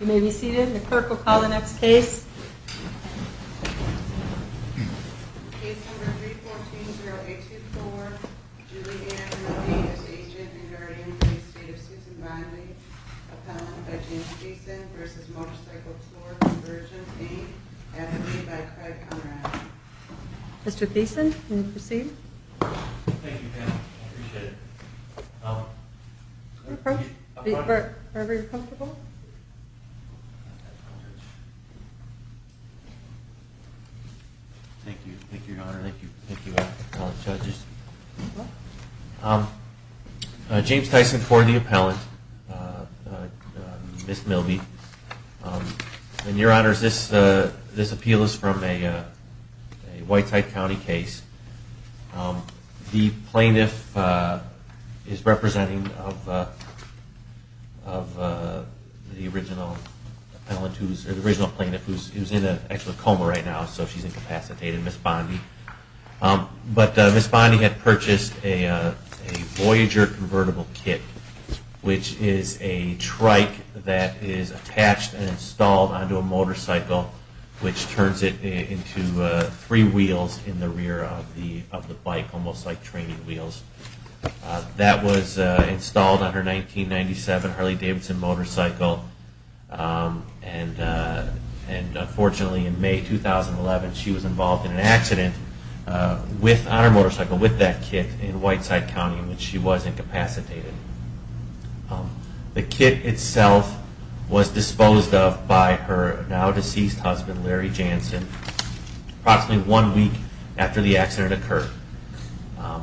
You may be seated. The clerk will call the next case. Case number 3420824. Julie Ann McGee is agent and guardian for the estate of Susan Biley. Appellant by James Thiessen v. Motorcycle Tour Conversions, Inc. Advocate by Craig Conrad. Mr. Thiessen, you may proceed. Thank you, Pam. I appreciate it. Wherever you're comfortable. Thank you. Thank you, Your Honor. Thank you. Thank you, all the judges. James Thiessen, court of the appellant. Ms. Milby. And, Your Honors, this appeal is from a Whiteside County case. The plaintiff is representing of the original plaintiff who's in a coma right now, so she's incapacitated, Ms. Bondy. But Ms. Bondy had purchased a Voyager convertible kit, which is a trike that is attached and installed onto a motorcycle, which turns it into three wheels in the rear of the bike, almost like training wheels. That was installed on her 1997 Harley Davidson motorcycle, and unfortunately in May 2011 she was involved in an accident on her motorcycle with that kit in Whiteside County in which she was incapacitated. The kit itself was disposed of by her now-deceased husband, Larry Jansen, approximately one week after the accident occurred.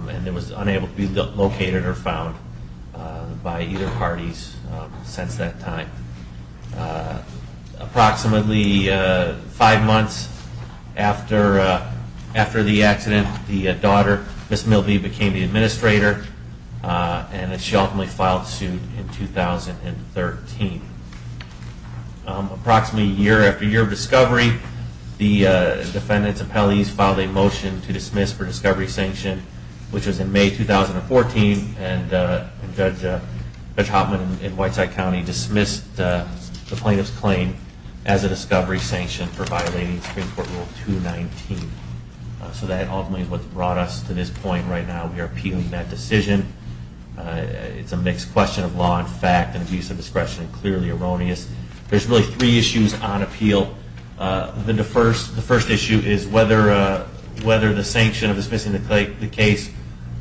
And it was unable to be located or found by either parties since that time. Approximately five months after the accident, the daughter, Ms. Milby, became the administrator, and she ultimately filed suit in 2013. Approximately year after year of discovery, the defendant's appellees filed a motion to dismiss for discovery sanction, which was in May 2014, and Judge Hoffman in Whiteside County dismissed the plaintiff's claim as a discovery sanction for violating Supreme Court Rule 219. So that ultimately is what's brought us to this point right now. We are appealing that decision. It's a mixed question of law and fact and abuse of discretion, clearly erroneous. There's really three issues on appeal. The first issue is whether the sanction of dismissing the case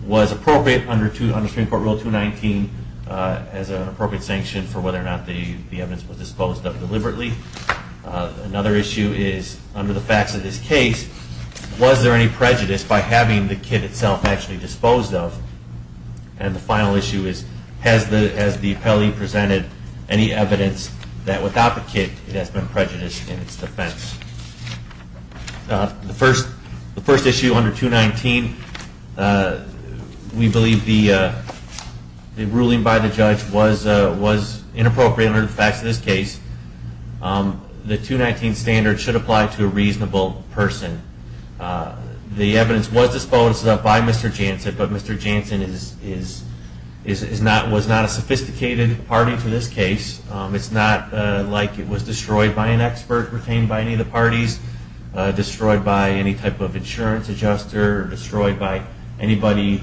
was appropriate under Supreme Court Rule 219 as an appropriate sanction for whether or not the evidence was disposed of deliberately. Another issue is under the facts of this case, was there any prejudice by having the kit itself actually disposed of And the final issue is, has the appellee presented any evidence that without the kit, it has been prejudiced in its defense. The first issue under 219, we believe the ruling by the judge was inappropriate under the facts of this case. The 219 standard should apply to a reasonable person. The evidence was disposed of by Mr. Janssen, but Mr. Janssen was not a sophisticated party to this case. It's not like it was destroyed by an expert retained by any of the parties, destroyed by any type of insurance adjuster, or destroyed by anybody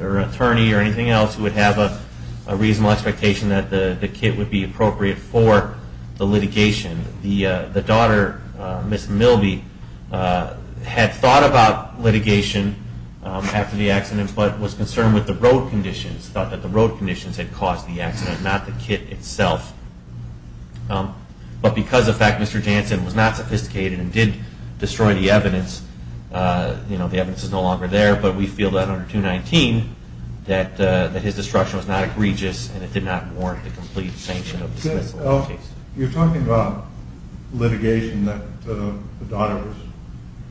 or attorney or anything else who would have a reasonable expectation that the kit would be appropriate for the litigation. The daughter, Ms. Milby, had thought about litigation after the accident, but was concerned with the road conditions, thought that the road conditions had caused the accident, not the kit itself. But because of the fact that Mr. Janssen was not sophisticated and did destroy the evidence, you know, the evidence is no longer there, but we feel that under 219 that his destruction was not egregious and it did not warrant the complete sanction of dismissal of the case. You're talking about litigation that the daughter was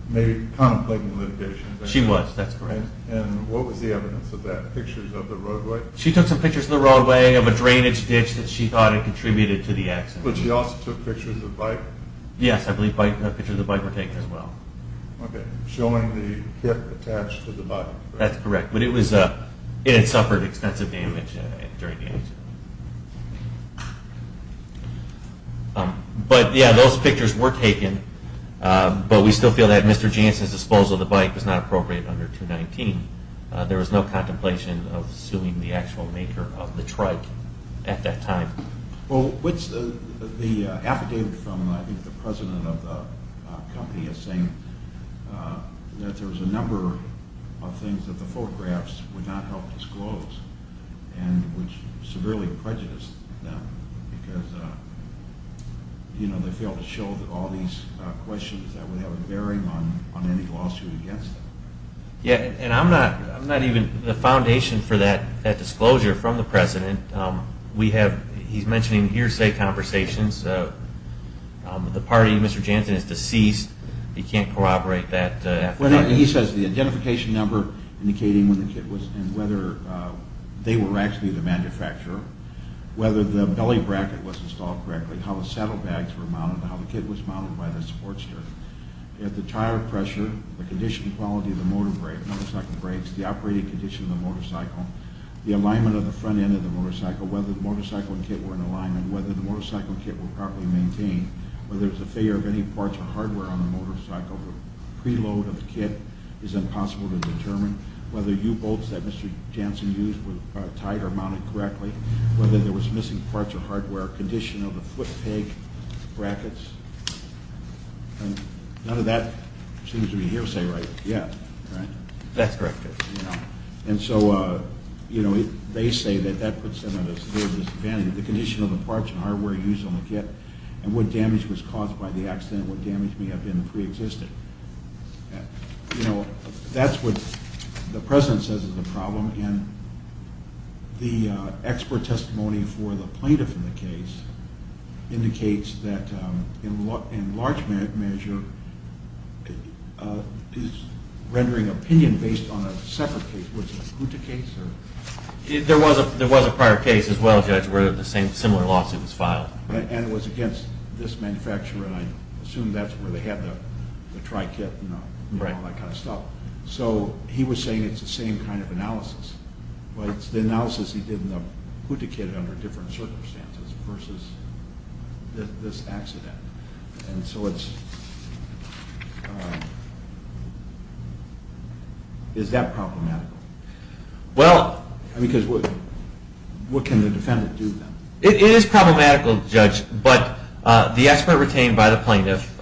maybe contemplating litigation. She was, that's correct. And what was the evidence of that, pictures of the roadway? She took some pictures of the roadway of a drainage ditch that she thought had contributed to the accident. But she also took pictures of the bike? Yes, I believe pictures of the bike were taken as well. Okay, showing the kit attached to the bike. That's correct, but it had suffered extensive damage during the accident. But yeah, those pictures were taken, but we still feel that Mr. Janssen's disposal of the bike was not appropriate under 219. There was no contemplation of suing the actual maker of the trike at that time. Well, the affidavit from the president of the company is saying that there was a number of things that the photographs would not help disclose and which severely prejudiced them because they failed to show all these questions that would have a bearing on any lawsuit against them. Yeah, and I'm not even, the foundation for that disclosure from the president, we have, he's mentioning hearsay conversations, the party, Mr. Janssen is deceased, he can't corroborate that affidavit. He says the identification number indicating when the kit was, and whether they were actually the manufacturer, whether the belly bracket was installed correctly, how the saddle bags were mounted, how the kit was mounted by the support stirrup, if the tire pressure, the condition quality of the motorcycle brakes, the operating condition of the motorcycle, the alignment of the front end of the motorcycle, whether the motorcycle and kit were in alignment, whether the motorcycle and kit were properly maintained, whether there was a failure of any parts or hardware on the motorcycle, preload of the kit is impossible to determine, whether U-bolts that Mr. Janssen used were tight or mounted correctly, whether there was missing parts or hardware, condition of the foot peg brackets, none of that seems to be hearsay right yet, right? That's correct. And so, you know, they say that that puts them at a disadvantage, the condition of the parts and hardware used on the kit, and what damage was caused by the accident, what damage may have been preexistent. You know, that's what the President says is the problem, and the expert testimony for the plaintiff in the case indicates that, in large measure, is rendering opinion based on a separate case. Was it Guta case? There was a prior case as well, Judge, where the same, similar lawsuit was filed. And it was against this manufacturer, and I assume that's where they had the tri-kit and all that kind of stuff. So he was saying it's the same kind of analysis, but it's the analysis he did in the Guta kit under different circumstances versus this accident. And so it's, is that problematic? Well... I mean, because what can the defendant do then? It is problematical, Judge, but the expert retained by the plaintiff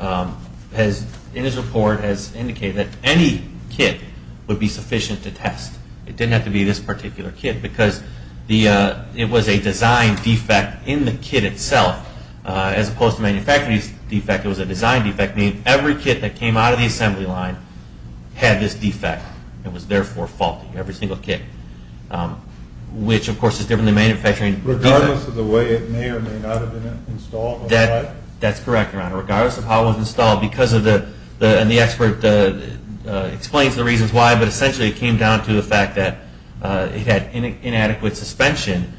has, in his report, has indicated that any kit would be sufficient to test. It didn't have to be this particular kit, because it was a design defect in the kit itself, as opposed to the manufacturer's defect. It was a design defect, meaning every kit that came out of the assembly line had this defect, and was therefore faulty, every single kit, which, of course, is different than manufacturing defects. Regardless of the way it may or may not have been installed on the trike? That's correct, Your Honor. Regardless of how it was installed, because of the, and the expert explains the reasons why, but essentially it came down to the fact that it had inadequate suspension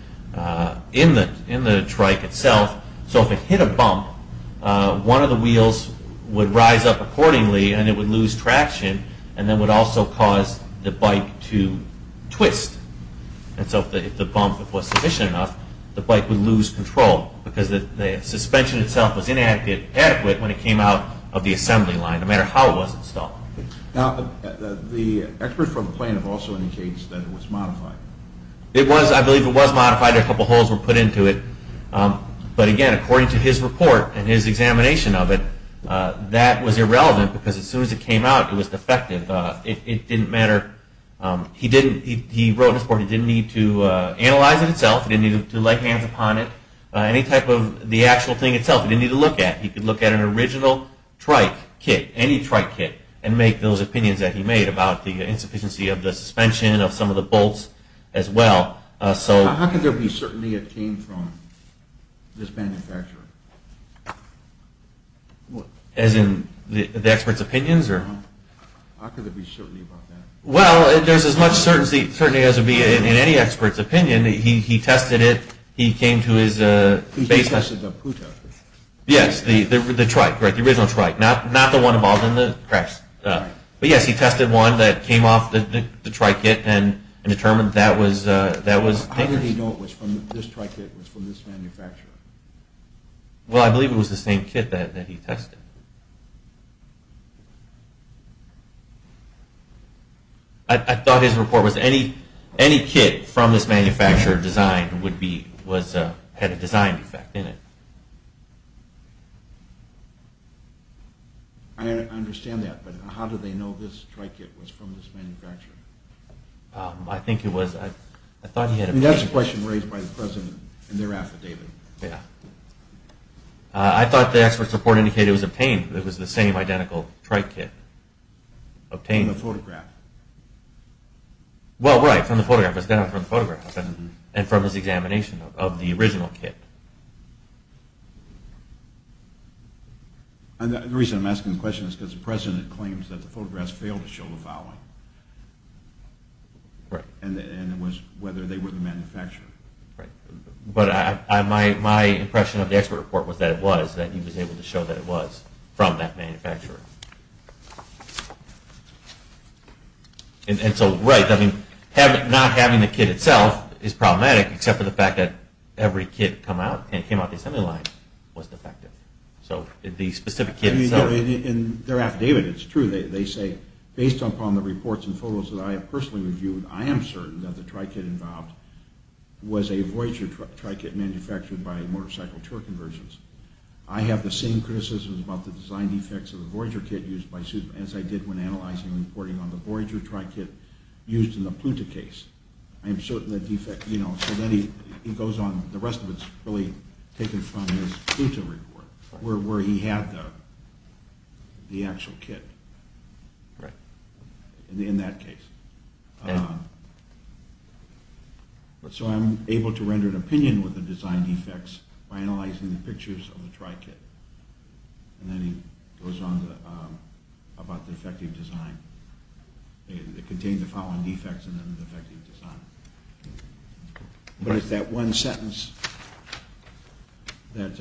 in the trike itself. So if it hit a bump, one of the wheels would rise up accordingly, and it would lose traction, and then would also cause the bike to twist. And so if the bump was sufficient enough, the bike would lose control, because the suspension itself was inadequate when it came out of the assembly line, no matter how it was installed. Now, the expert from the plaintiff also indicates that it was modified. It was, I believe it was modified. A couple holes were put into it, but again, according to his report and his examination of it, that was irrelevant, because as soon as it came out, it was defective. It didn't matter. He didn't, he wrote in his report, he didn't need to analyze it itself. He didn't need to lay hands upon it. Any type of the actual thing itself, he didn't need to look at. He could look at an original trike kit, any trike kit, and make those opinions that he made about the insufficiency of the suspension, of some of the bolts as well. How could there be certainty it came from this manufacturer? What? As in the expert's opinions? How could there be certainty about that? Well, there's as much certainty as there would be in any expert's opinion. He tested it. He came to his basement. He tested the who tested it? Yes, the trike, right, the original trike. Not the one involved in the cracks. But yes, he tested one that came off the trike kit, and determined that was dangerous. How did he know this trike kit was from this manufacturer? Well, I believe it was the same kit that he tested. I thought his report was any kit from this manufacturer designed had a design effect in it. I understand that, but how did they know this trike kit was from this manufacturer? I think it was, I thought he had... That's a question raised by the President in their affidavit. Yeah. I thought the expert's report indicated it was obtained, it was the same identical trike kit obtained. From the photograph. Well, right, from the photograph. It was done from the photograph and from his examination of the original kit. The reason I'm asking the question is because the President claims that the photographs failed to show the following. Right. And it was whether they were the manufacturer. Right. But my impression of the expert report was that it was, that he was able to show that it was from that manufacturer. And so, right, I mean, not having the kit itself is problematic, except for the fact that every kit that came out, and it came out the assembly line, was defective. So the specific kit itself... Well, in their affidavit, it's true. They say, based upon the reports and photos that I have personally reviewed, I am certain that the trike kit involved was a Voyager trike kit manufactured by Motorcycle Tour Conversions. I have the same criticisms about the design defects of the Voyager kit used by Susan as I did when analyzing and reporting on the Voyager trike kit used in the Pluta case. I am certain the defect, you know, so then he goes on, the rest of it's really taken from his Pluta report, where he had the actual kit. Right. In that case. So I'm able to render an opinion with the design defects by analyzing the pictures of the trike kit. And then he goes on about the defective design. It contained the following defects in the defective design. But it's that one sentence that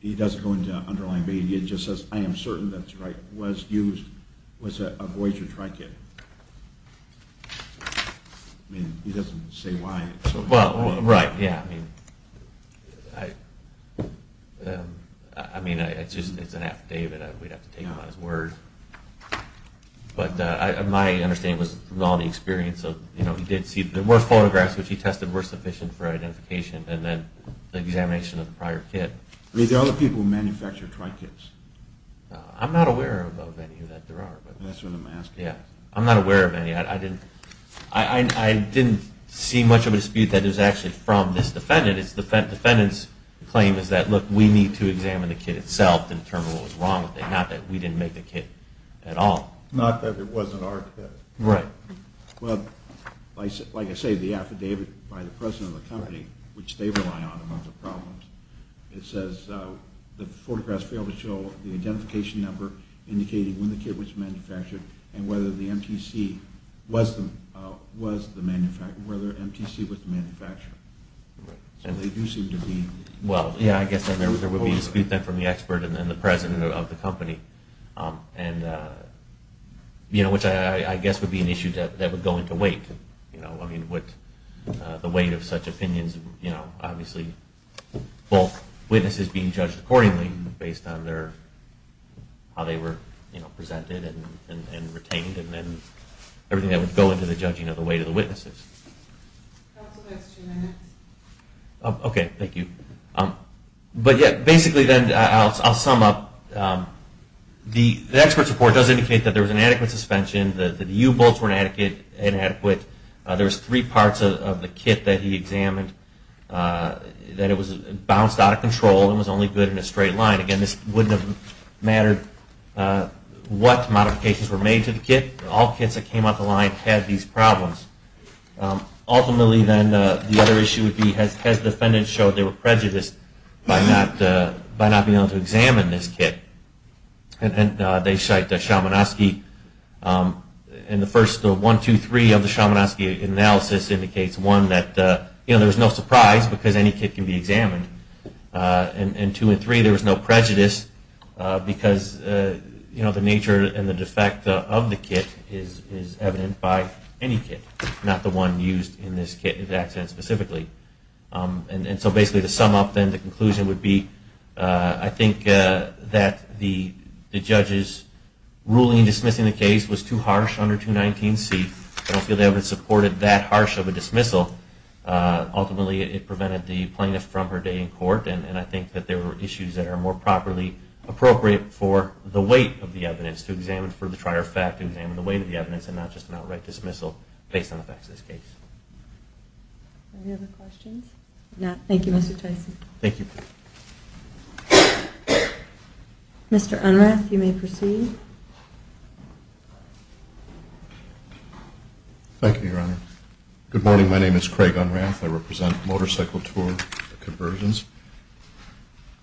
he doesn't go into underlying media. It just says, I am certain that the trike was used, was a Voyager trike kit. I mean, he doesn't say why. Well, right, yeah. I mean, it's an affidavit. We'd have to take it upon his word. But my understanding was from all the experience of, you know, he did see there were photographs which he tested were sufficient for identification and then the examination of the prior kit. I mean, there are other people who manufacture trike kits. I'm not aware of any that there are. That's what I'm asking. Yeah. I'm not aware of any. I didn't see much of a dispute that it was actually from this defendant. The defendant's claim is that, look, we need to examine the kit itself and determine what was wrong with it, not that we didn't make the kit at all. Not that it wasn't our kit. Right. Well, like I say, the affidavit by the president of the company, which they rely on amongst the problems, it says the photographs fail to show the identification number indicating when the kit was manufactured and whether the MTC was the manufacturer. So they do seem to be. Well, yeah, I guess there would be a dispute then from the expert and the president of the company, which I guess would be an issue that would go into weight. I mean, would the weight of such opinions, you know, obviously both witnesses being judged accordingly based on their, how they were presented and retained and then everything that would go into the judging of the weight of the witnesses. That's the next two minutes. Okay, thank you. But yeah, basically then I'll sum up. The expert's report does indicate that there was inadequate suspension, that the U-bolts were inadequate. There was three parts of the kit that he examined that it was bounced out of control and was only good in a straight line. Again, this wouldn't have mattered what modifications were made to the kit. All kits that came out the line had these problems. Ultimately then, the other issue would be, has the defendant showed they were prejudiced by not being able to examine this kit? And they cite the Shamanosky, and the first one, two, three of the Shamanosky analysis indicates, one, that there was no surprise because any kit can be examined, and two and three, there was no prejudice because the nature and the defect of the kit is evident by any kit, not the one used in this accident specifically. And so basically to sum up then, the conclusion would be, I think that the judge's ruling dismissing the case was too harsh under 219C. I don't feel they ever supported that harsh of a dismissal. Ultimately, it prevented the plaintiff from her day in court, and I think that there were issues that are more properly appropriate for the weight of the evidence to examine for the trier fact and examine the weight of the evidence and not just an outright dismissal based on the facts of this case. Any other questions? No. Thank you, Mr. Tyson. Thank you. Mr. Unrath, you may proceed. Thank you, Your Honor. Good morning. My name is Craig Unrath. I represent Motorcycle Tour Conversions.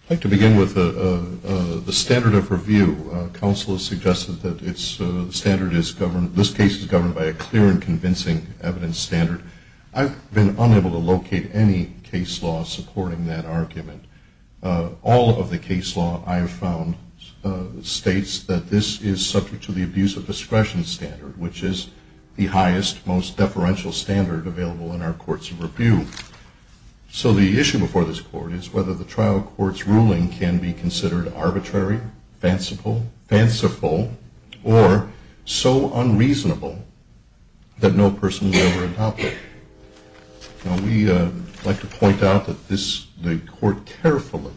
I'd like to begin with the standard of review. Counsel has suggested that the standard is governed, this case is governed by a clear and convincing evidence standard. I've been unable to locate any case law supporting that argument. All of the case law I have found states that this is subject to the abuse of discretion standard, which is the highest, most deferential standard available in our courts of review. So the issue before this court is whether the trial court's ruling can be considered arbitrary, fanciful, or so unreasonable that no person will ever adopt it. We like to point out that the court carefully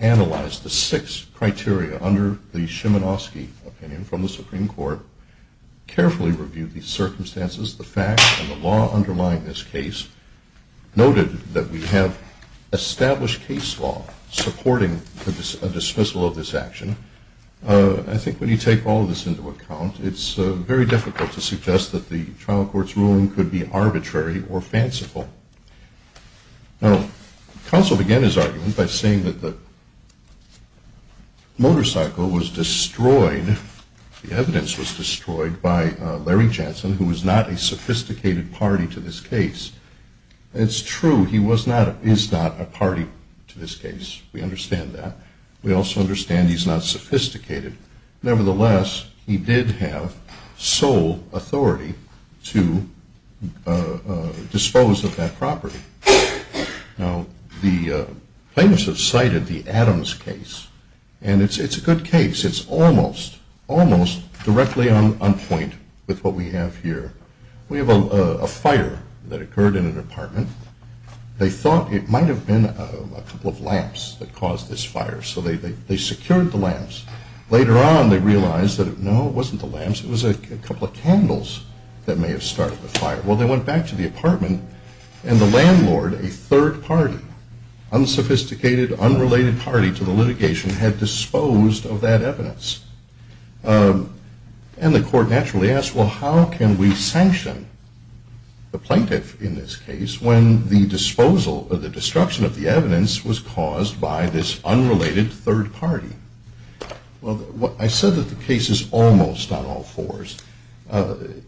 analyzed the six criteria under the Shimanoski opinion from the Supreme Court, carefully reviewed the circumstances, the facts, and the law underlying this case, noted that we have established case law supporting a dismissal of this action. I think when you take all of this into account, it's very difficult to suggest that the trial court's ruling could be arbitrary or fanciful. Now, counsel began his argument by saying that the motorcycle was destroyed, the evidence was destroyed, by Larry Jensen, who was not a sophisticated party to this case. It's true, he is not a party to this case. We understand that. We also understand he's not sophisticated. Nevertheless, he did have sole authority to dispose of that property. Now, the plaintiffs have cited the Adams case, and it's a good case. It's almost, almost directly on point with what we have here. We have a fire that occurred in an apartment. They thought it might have been a couple of lamps that caused this fire, so they secured the lamps. Later on, they realized that, no, it wasn't the lamps, it was a couple of candles that may have started the fire. Well, they went back to the apartment, and the landlord, a third party, unsophisticated, unrelated party to the litigation, had disposed of that evidence. And the court naturally asked, well, how can we sanction the plaintiff in this case when the disposal or the destruction of the evidence was caused by this unrelated third party? Well, I said that the case is almost on all fours. The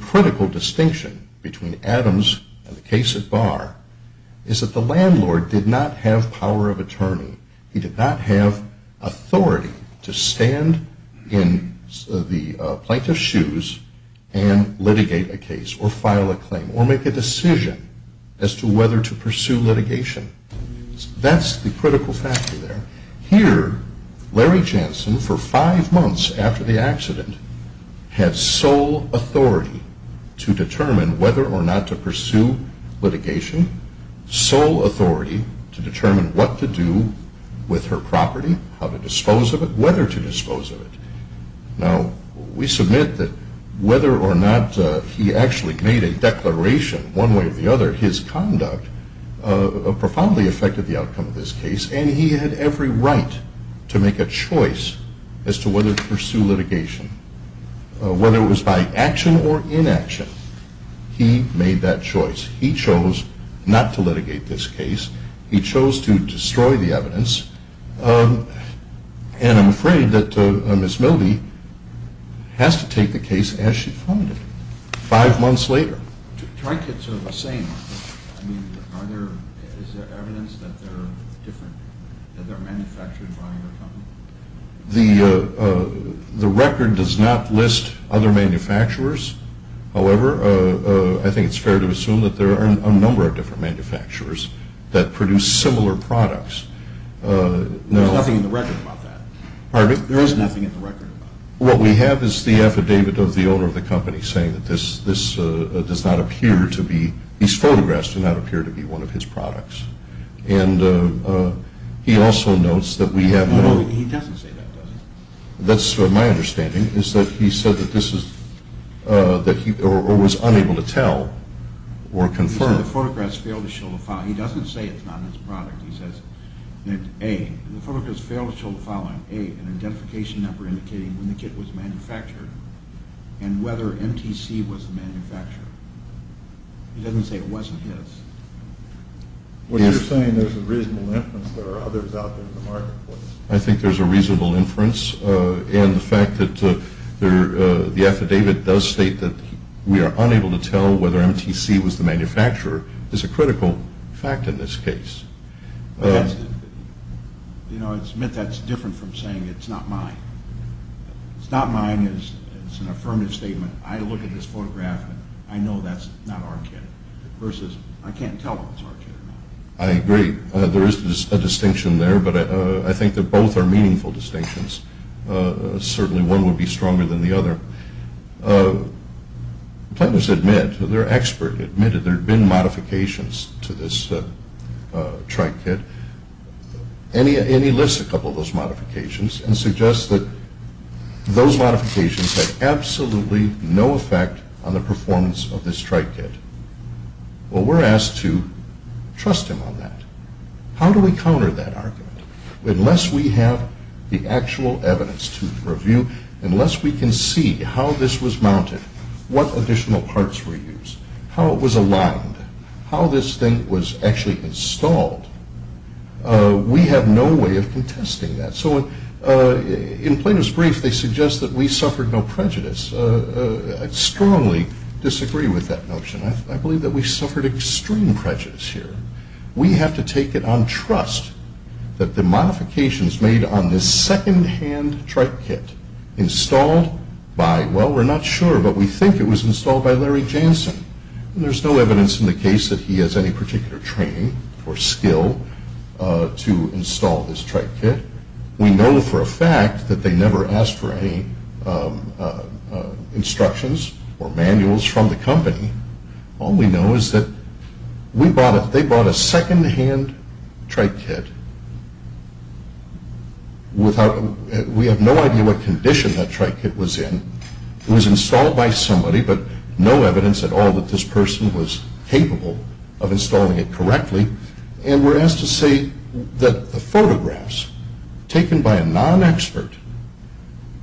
critical distinction between Adams and the case at bar is that the landlord did not have power of attorney. He did not have authority to stand in the plaintiff's shoes and litigate a case or file a claim or make a decision as to whether to pursue litigation. That's the critical factor there. Here, Larry Jansen, for five months after the accident, had sole authority to determine whether or not to pursue litigation, sole authority to determine what to do with her property, how to dispose of it, whether to dispose of it. Now, we submit that whether or not he actually made a declaration one way or the other, his conduct profoundly affected the outcome of this case, and he had every right to make a choice as to whether to pursue litigation. Whether it was by action or inaction, he made that choice. He chose not to litigate this case. He chose to destroy the evidence, and I'm afraid that Ms. Mildy has to take the case as she funded it five months later. Trinkets are the same. I mean, is there evidence that they're different, that they're manufactured by your company? The record does not list other manufacturers. However, I think it's fair to assume that there are a number of different manufacturers that produce similar products. There's nothing in the record about that. Pardon me? There is nothing in the record about that. What we have is the affidavit of the owner of the company saying that this does not appear to be, these photographs do not appear to be one of his products, and he also notes that we have no- He doesn't say that, does he? That's my understanding, is that he said that this is, or was unable to tell or confirm. He said the photographs failed to show the following. He doesn't say it's not his product. He says that, A, the photographs failed to show the following. A, an identification number indicating when the kit was manufactured and whether MTC was the manufacturer. He doesn't say it wasn't his. What you're saying is there's a reasonable inference that there are others out there in the marketplace. I think there's a reasonable inference, and the fact that the affidavit does state that we are unable to tell whether MTC was the manufacturer is a critical fact in this case. But that's, you know, it's meant that's different from saying it's not mine. It's not mine is an affirmative statement. I look at this photograph, and I know that's not our kit, versus I can't tell if it's our kit or not. I agree. There is a distinction there, but I think that both are meaningful distinctions. Certainly one would be stronger than the other. Plaintiffs admit, they're expert, admit that there have been modifications to this tri-kit, and he lists a couple of those modifications and suggests that those modifications had absolutely no effect on the performance of this tri-kit. Well, we're asked to trust him on that. How do we counter that argument? Unless we have the actual evidence to review, unless we can see how this was mounted, what additional parts were used, how it was aligned, how this thing was actually installed, we have no way of contesting that. So in plaintiff's brief, they suggest that we suffered no prejudice. I strongly disagree with that notion. I believe that we suffered extreme prejudice here. We have to take it on trust that the modifications made on this second-hand tri-kit installed by, well, we're not sure, but we think it was installed by Larry Jansen. There's no evidence in the case that he has any particular training or skill to install this tri-kit. We know for a fact that they never asked for any instructions or manuals from the company. All we know is that they bought a second-hand tri-kit. We have no idea what condition that tri-kit was in. It was installed by somebody, but no evidence at all that this person was capable of installing it correctly. And we're asked to say that the photographs taken by a non-expert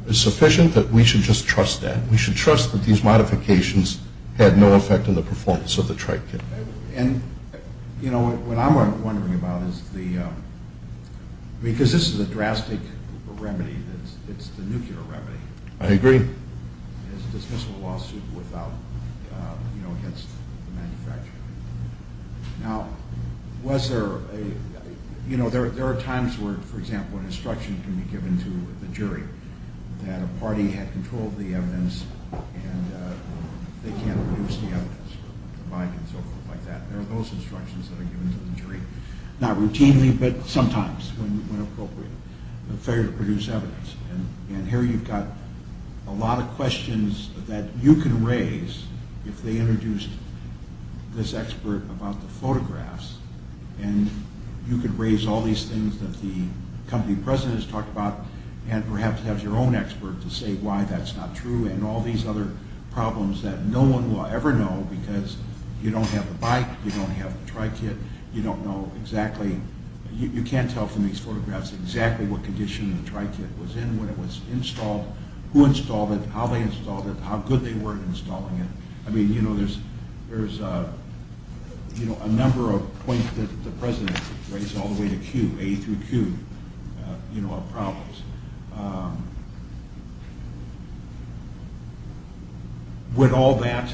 is sufficient that we should just trust that. We should trust that these modifications had no effect on the performance of the tri-kit. And, you know, what I'm wondering about is the, because this is a drastic remedy, it's the nuclear remedy. I agree. It's a dismissal lawsuit without, you know, against the manufacturer. Now, was there a, you know, there are times where, for example, an instruction can be given to the jury that a party had control of the evidence and they can't produce the evidence, provide it, and so forth like that. There are those instructions that are given to the jury, not routinely, but sometimes when appropriate, failure to produce evidence. And here you've got a lot of questions that you can raise if they introduce this expert about the photographs. And you could raise all these things that the company president has talked about and perhaps have your own expert to say why that's not true and all these other problems that no one will ever know because you don't have the bike, you don't have the tri-kit, you don't know exactly, you can't tell from these photographs exactly what condition the tri-kit was in when it was installed, who installed it, how they installed it, how good they were at installing it. I mean, you know, there's a number of points that the president raised all the way to Q, A through Q, you know, of problems. Would all that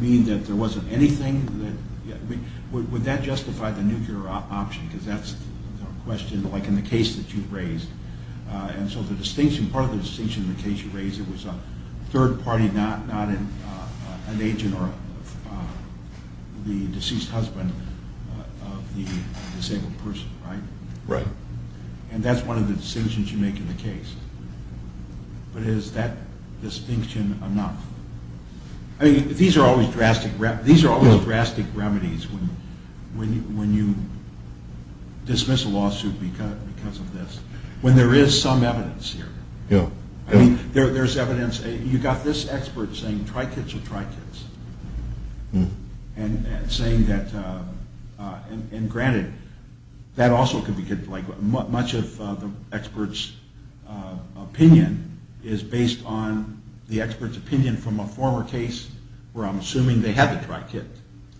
mean that there wasn't anything that, would that justify the nuclear option? Because that's a question like in the case that you raised. And so the distinction, part of the distinction in the case you raised, it was a third party, not an agent or the deceased husband of the disabled person, right? Right. And that's one of the decisions you make in the case. But is that distinction enough? I mean, these are always drastic remedies when you dismiss a lawsuit because of this. When there is some evidence here. I mean, there's evidence, you got this expert saying tri-kits are tri-kits. And saying that, and granted, that also could be, like much of the expert's opinion is based on the expert's opinion from a former case where I'm assuming they had the tri-kit.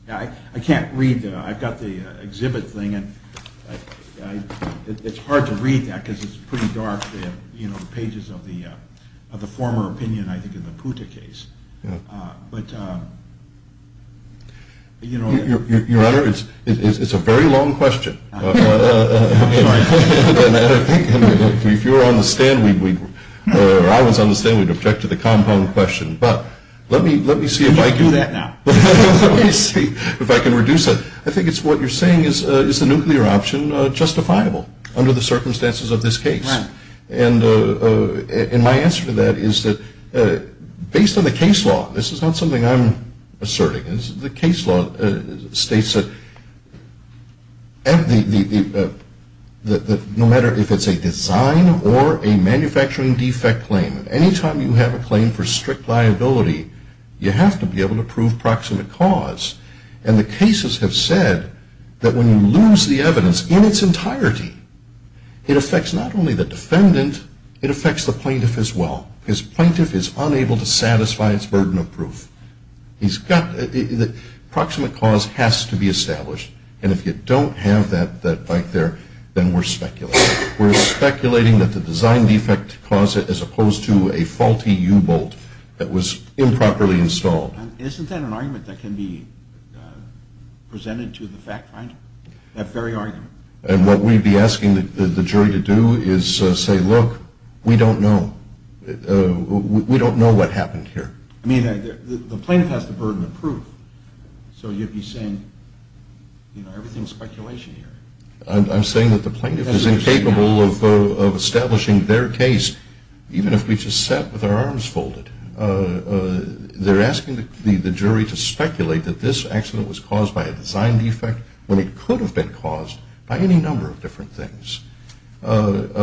I can't read, I've got the exhibit thing, and it's hard to read that because it's pretty dark, you know, the pages of the former opinion, I think, in the Puta case. But, you know. Your Honor, it's a very long question. I'm sorry. If you were on the stand, or I was on the stand, we'd object to the compound question. But let me see if I can. You can do that now. Let me see if I can reduce it. I think it's what you're saying is the nuclear option justifiable under the circumstances of this case. Right. And my answer to that is that based on the case law, this is not something I'm asserting. The case law states that no matter if it's a design or a manufacturing defect claim, any time you have a claim for strict liability, you have to be able to prove proximate cause. And the cases have said that when you lose the evidence in its entirety, it affects not only the defendant, it affects the plaintiff as well. Because plaintiff is unable to satisfy its burden of proof. Proximate cause has to be established. And if you don't have that right there, then we're speculating. We're speculating that the design defect caused it as opposed to a faulty U-bolt that was improperly installed. Isn't that an argument that can be presented to the fact finder, that very argument? And what we'd be asking the jury to do is say, look, we don't know. We don't know what happened here. I mean, the plaintiff has the burden of proof. So you'd be saying, you know, everything's speculation here. I'm saying that the plaintiff is incapable of establishing their case, even if we just sat with our arms folded. They're asking the jury to speculate that this accident was caused by a design defect when it could have been caused by any number of different things. But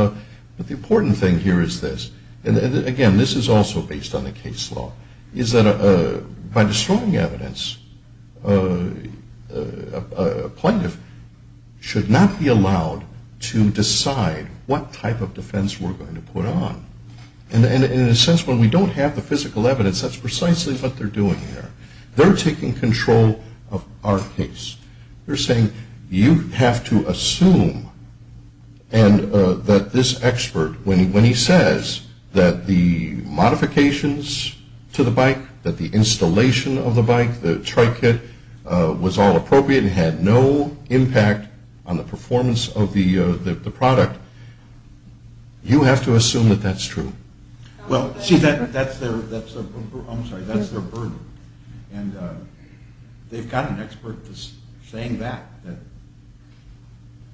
the important thing here is this, and again, this is also based on the case law, is that by destroying evidence, a plaintiff should not be allowed to decide what type of defense we're going to put on. And in a sense, when we don't have the physical evidence, that's precisely what they're doing there. They're taking control of our case. They're saying you have to assume that this expert, when he says that the modifications to the bike, that the installation of the bike, the tri-kit was all appropriate and had no impact on the performance of the product, you have to assume that that's true. Well, see, that's their, I'm sorry, that's their burden. And they've got an expert saying that, that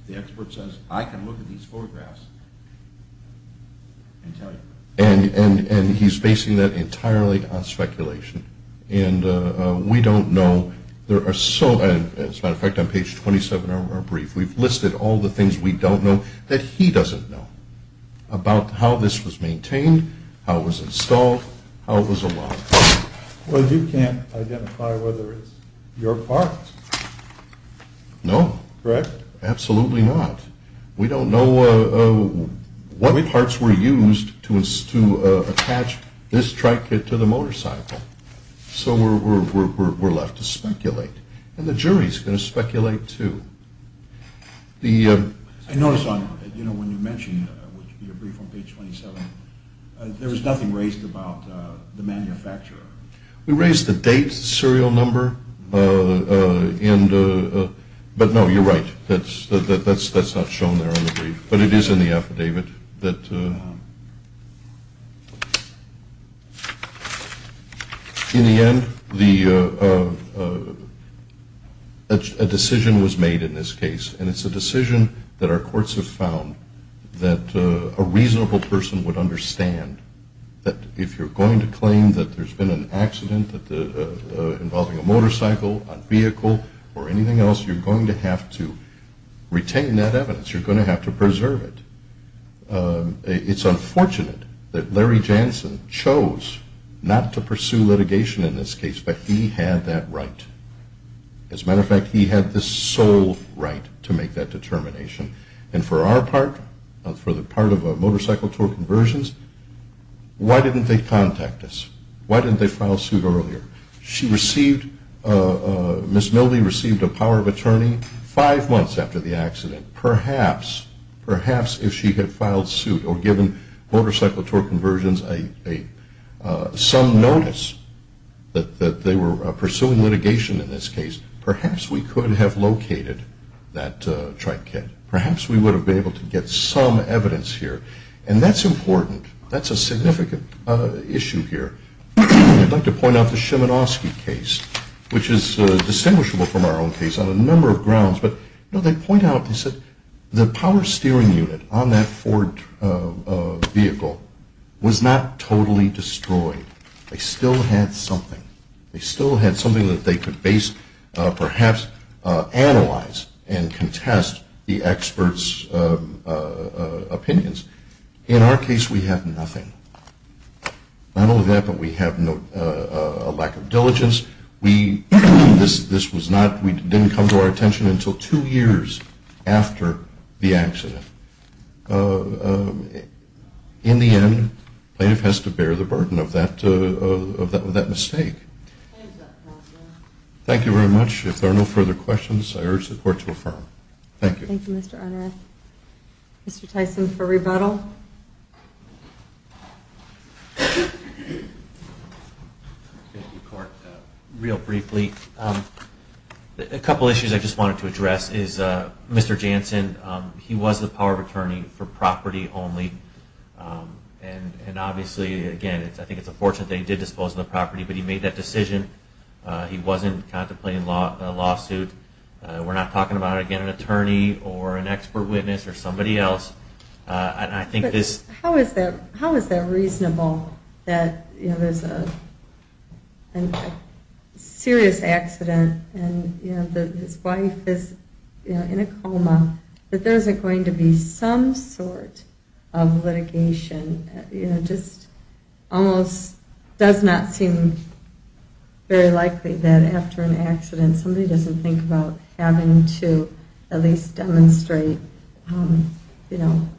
the expert says, I can look at these photographs and tell you. And he's basing that entirely on speculation. And we don't know, there are so, as a matter of fact, on page 27 of our brief, we've listed all the things we don't know that he doesn't know about how this was maintained, how it was installed, how it was allowed. Well, you can't identify whether it's your part. No. Correct? Absolutely not. We don't know what parts were used to attach this tri-kit to the motorcycle. So we're left to speculate. And the jury's going to speculate, too. I noticed on, you know, when you mentioned your brief on page 27, there was nothing raised about the manufacturer. We raised the date, serial number, but no, you're right, that's not shown there on the brief. But it is in the affidavit. In the end, a decision was made in this case, and it's a decision that our courts have found that a reasonable person would understand that if you're going to claim that there's been an accident involving a motorcycle, a vehicle, or anything else, you're going to have to retain that evidence. You're going to have to preserve it. It's unfortunate that Larry Jansen chose not to pursue litigation in this case, but he had that right. As a matter of fact, he had the sole right to make that determination. And for our part, for the part of Motorcycle Tour Conversions, why didn't they contact us? Why didn't they file suit earlier? She received, Ms. Millby received a power of attorney five months after the accident. Perhaps, perhaps if she had filed suit or given Motorcycle Tour Conversions some notice that they were pursuing litigation in this case, perhaps we could have located that trike kit. Perhaps we would have been able to get some evidence here. And that's important. That's a significant issue here. I'd like to point out the Szymanowski case, which is distinguishable from our own case on a number of grounds. But, you know, they point out, they said the power steering unit on that Ford vehicle was not totally destroyed. They still had something. They still had something that they could base, perhaps analyze and contest the experts' opinions. In our case, we have nothing. Not only that, but we have a lack of diligence. We, this was not, we didn't come to our attention until two years after the accident. In the end, plaintiff has to bear the burden of that mistake. Thank you very much. If there are no further questions, I urge the Court to affirm. Thank you. Thank you, Mr. Onuf. Mr. Tyson for rebuttal. Thank you, Court. Real briefly, a couple issues I just wanted to address is Mr. Jansen, he was the power of attorney for property only. And obviously, again, I think it's a fortune that he did dispose of the property, but he made that decision. He wasn't contemplating a lawsuit. We're not talking about, again, an attorney or an expert witness or somebody else. How is that reasonable that there's a serious accident and his wife is in a coma, that there isn't going to be some sort of litigation? It just almost does not seem very likely that after an accident somebody doesn't think about having to at least demonstrate, you know,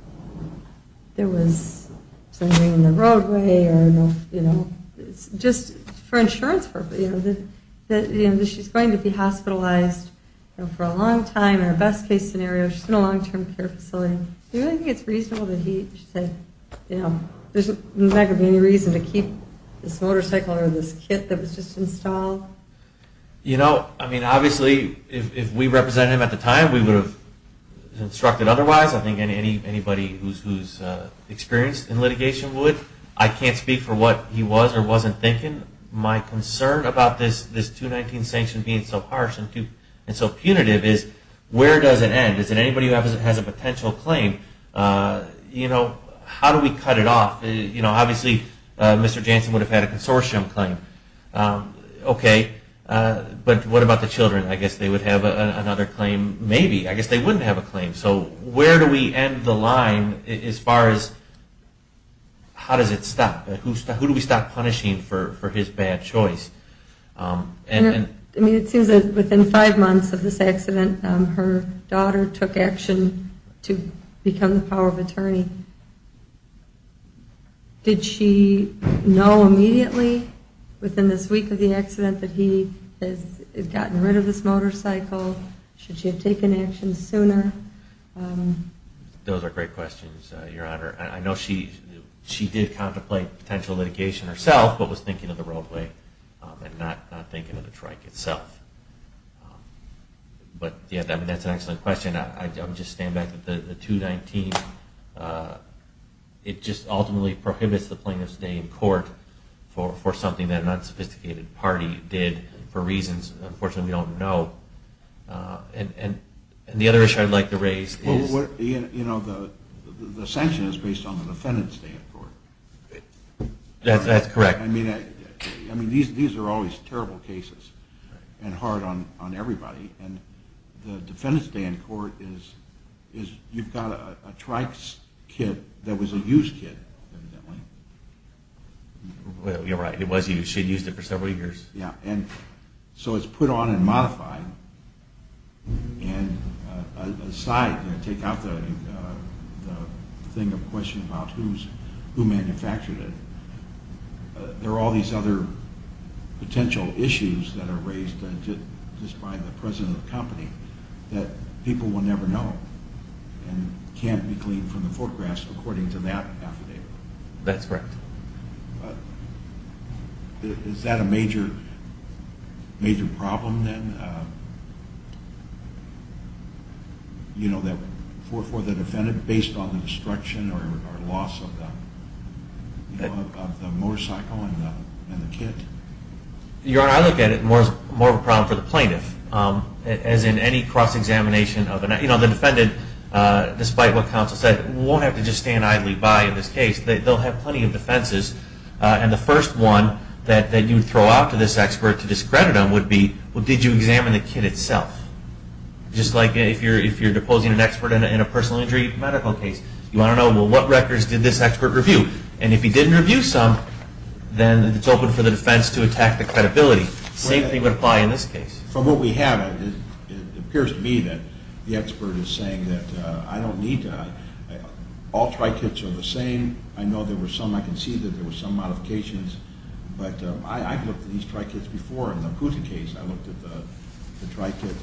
there was something in the roadway or, you know, just for insurance purposes, you know, that she's going to be hospitalized for a long time or a best case scenario, she's in a long-term care facility. Do you really think it's reasonable that he said, you know, there's not going to be any reason to keep this motorcycle or this kit that was just installed? You know, I mean, obviously, if we represented him at the time, we would have instructed otherwise. I think anybody who's experienced in litigation would. I can't speak for what he was or wasn't thinking. Again, my concern about this 219 sanction being so harsh and so punitive is where does it end? Does anybody who has a potential claim, you know, how do we cut it off? You know, obviously, Mr. Jansen would have had a consortium claim. Okay, but what about the children? I guess they would have another claim maybe. I guess they wouldn't have a claim. So where do we end the line as far as how does it stop? Who do we stop punishing for his bad choice? I mean, it seems that within five months of this accident, her daughter took action to become the power of attorney. Did she know immediately within this week of the accident that he had gotten rid of this motorcycle? Should she have taken action sooner? Those are great questions, Your Honor. I know she did contemplate potential litigation herself but was thinking of the roadway and not thinking of the trike itself. But, yeah, that's an excellent question. I would just stand back to the 219. It just ultimately prohibits the plaintiff's stay in court for something that an unsophisticated party did for reasons, unfortunately, we don't know. And the other issue I'd like to raise is... The sanction is based on the defendant's stay in court. That's correct. I mean, these are always terrible cases and hard on everybody. And the defendant's stay in court is you've got a trike's kit that was a used kit, evidently. You're right. It was used. She had used it for several years. So it's put on and modified. And aside, to take out the question about who manufactured it, there are all these other potential issues that are raised just by the president of the company that people will never know and can't be gleaned from the photographs according to that affidavit. That's correct. Is that a major problem then for the defendant based on the destruction or loss of the motorcycle and the kit? Your Honor, I look at it more as a problem for the plaintiff, as in any cross-examination. The defendant, despite what counsel said, won't have to just stand idly by in this case. They'll have plenty of defenses. And the first one that you would throw out to this expert to discredit him would be, well, did you examine the kit itself? Just like if you're deposing an expert in a personal injury medical case. You want to know, well, what records did this expert review? And if he didn't review some, then it's open for the defense to attack the credibility. The same thing would apply in this case. From what we have, it appears to me that the expert is saying that I don't need to. All tri-kits are the same. I know there were some, I can see that there were some modifications. But I've looked at these tri-kits before. In the Pusa case, I looked at the tri-kit.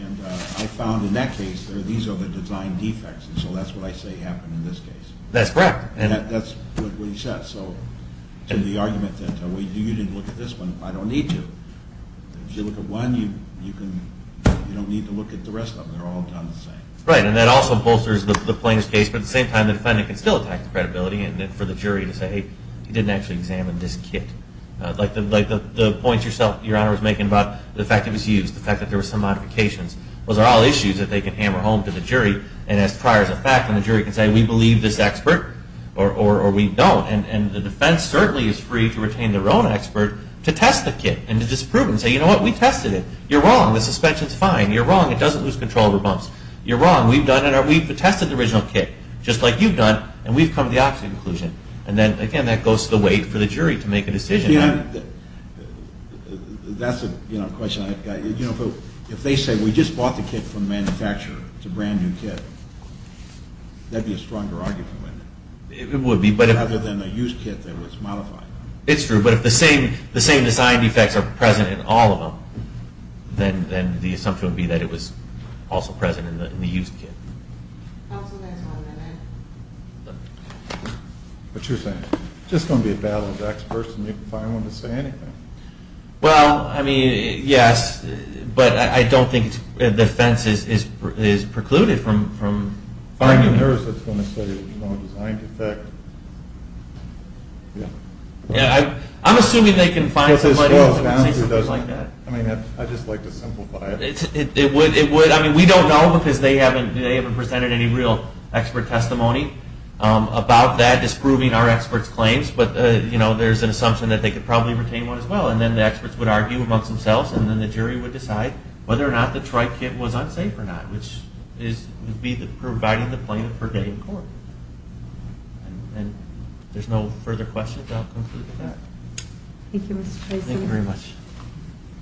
And I found in that case, these are the design defects. And so that's what I say happened in this case. That's correct. That's what he said. So to the argument that you didn't look at this one, I don't need to. If you look at one, you don't need to look at the rest of them. They're all done the same. Right, and that also bolsters the plaintiff's case. But at the same time, the defendant can still attack the credibility for the jury to say, hey, he didn't actually examine this kit. Like the point your Honor was making about the fact that it was used, the fact that there were some modifications, those are all issues that they can hammer home to the jury and ask prior to the fact. And the jury can say, we believe this expert or we don't. And the defense certainly is free to retain their own expert to test the kit and to disprove it and say, you know what, we tested it. You're wrong. The suspension is fine. You're wrong. It doesn't lose control over bumps. You're wrong. We've done it. We've tested the original kit, just like you've done, and we've come to the opposite conclusion. And then, again, that goes to the weight for the jury to make a decision. That's a question I've got. If they say we just bought the kit from the manufacturer, it's a brand-new kit, that would be a stronger argument. It would be. Rather than a used kit that was modified. It's true. But if the same design defects are present in all of them, then the assumption would be that it was also present in the used kit. Counsel, there's one minute. What you're saying. Just going to be a valid expert and you can find one to say anything. Well, I mean, yes. But I don't think the defense is precluded from finding it. If you find a nurse that's going to say there's a wrong design defect, yeah. I'm assuming they can find somebody else who can say something like that. I mean, I'd just like to simplify it. It would. I mean, we don't know because they haven't presented any real expert testimony about that disproving our experts' claims. But, you know, there's an assumption that they could probably retain one as well. And then the experts would argue amongst themselves, and then the jury would decide whether or not the Tri-Kit was unsafe or not, which would be providing the plaintiff for day in court. And if there's no further questions, I'll conclude with that. Thank you, Mr. Treison. Thank you very much.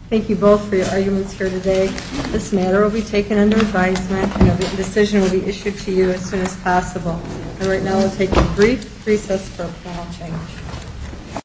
Thank you both for your arguments here today. This matter will be taken under advisement and a decision will be issued to you as soon as possible. And right now I'll take a brief recess for a final change.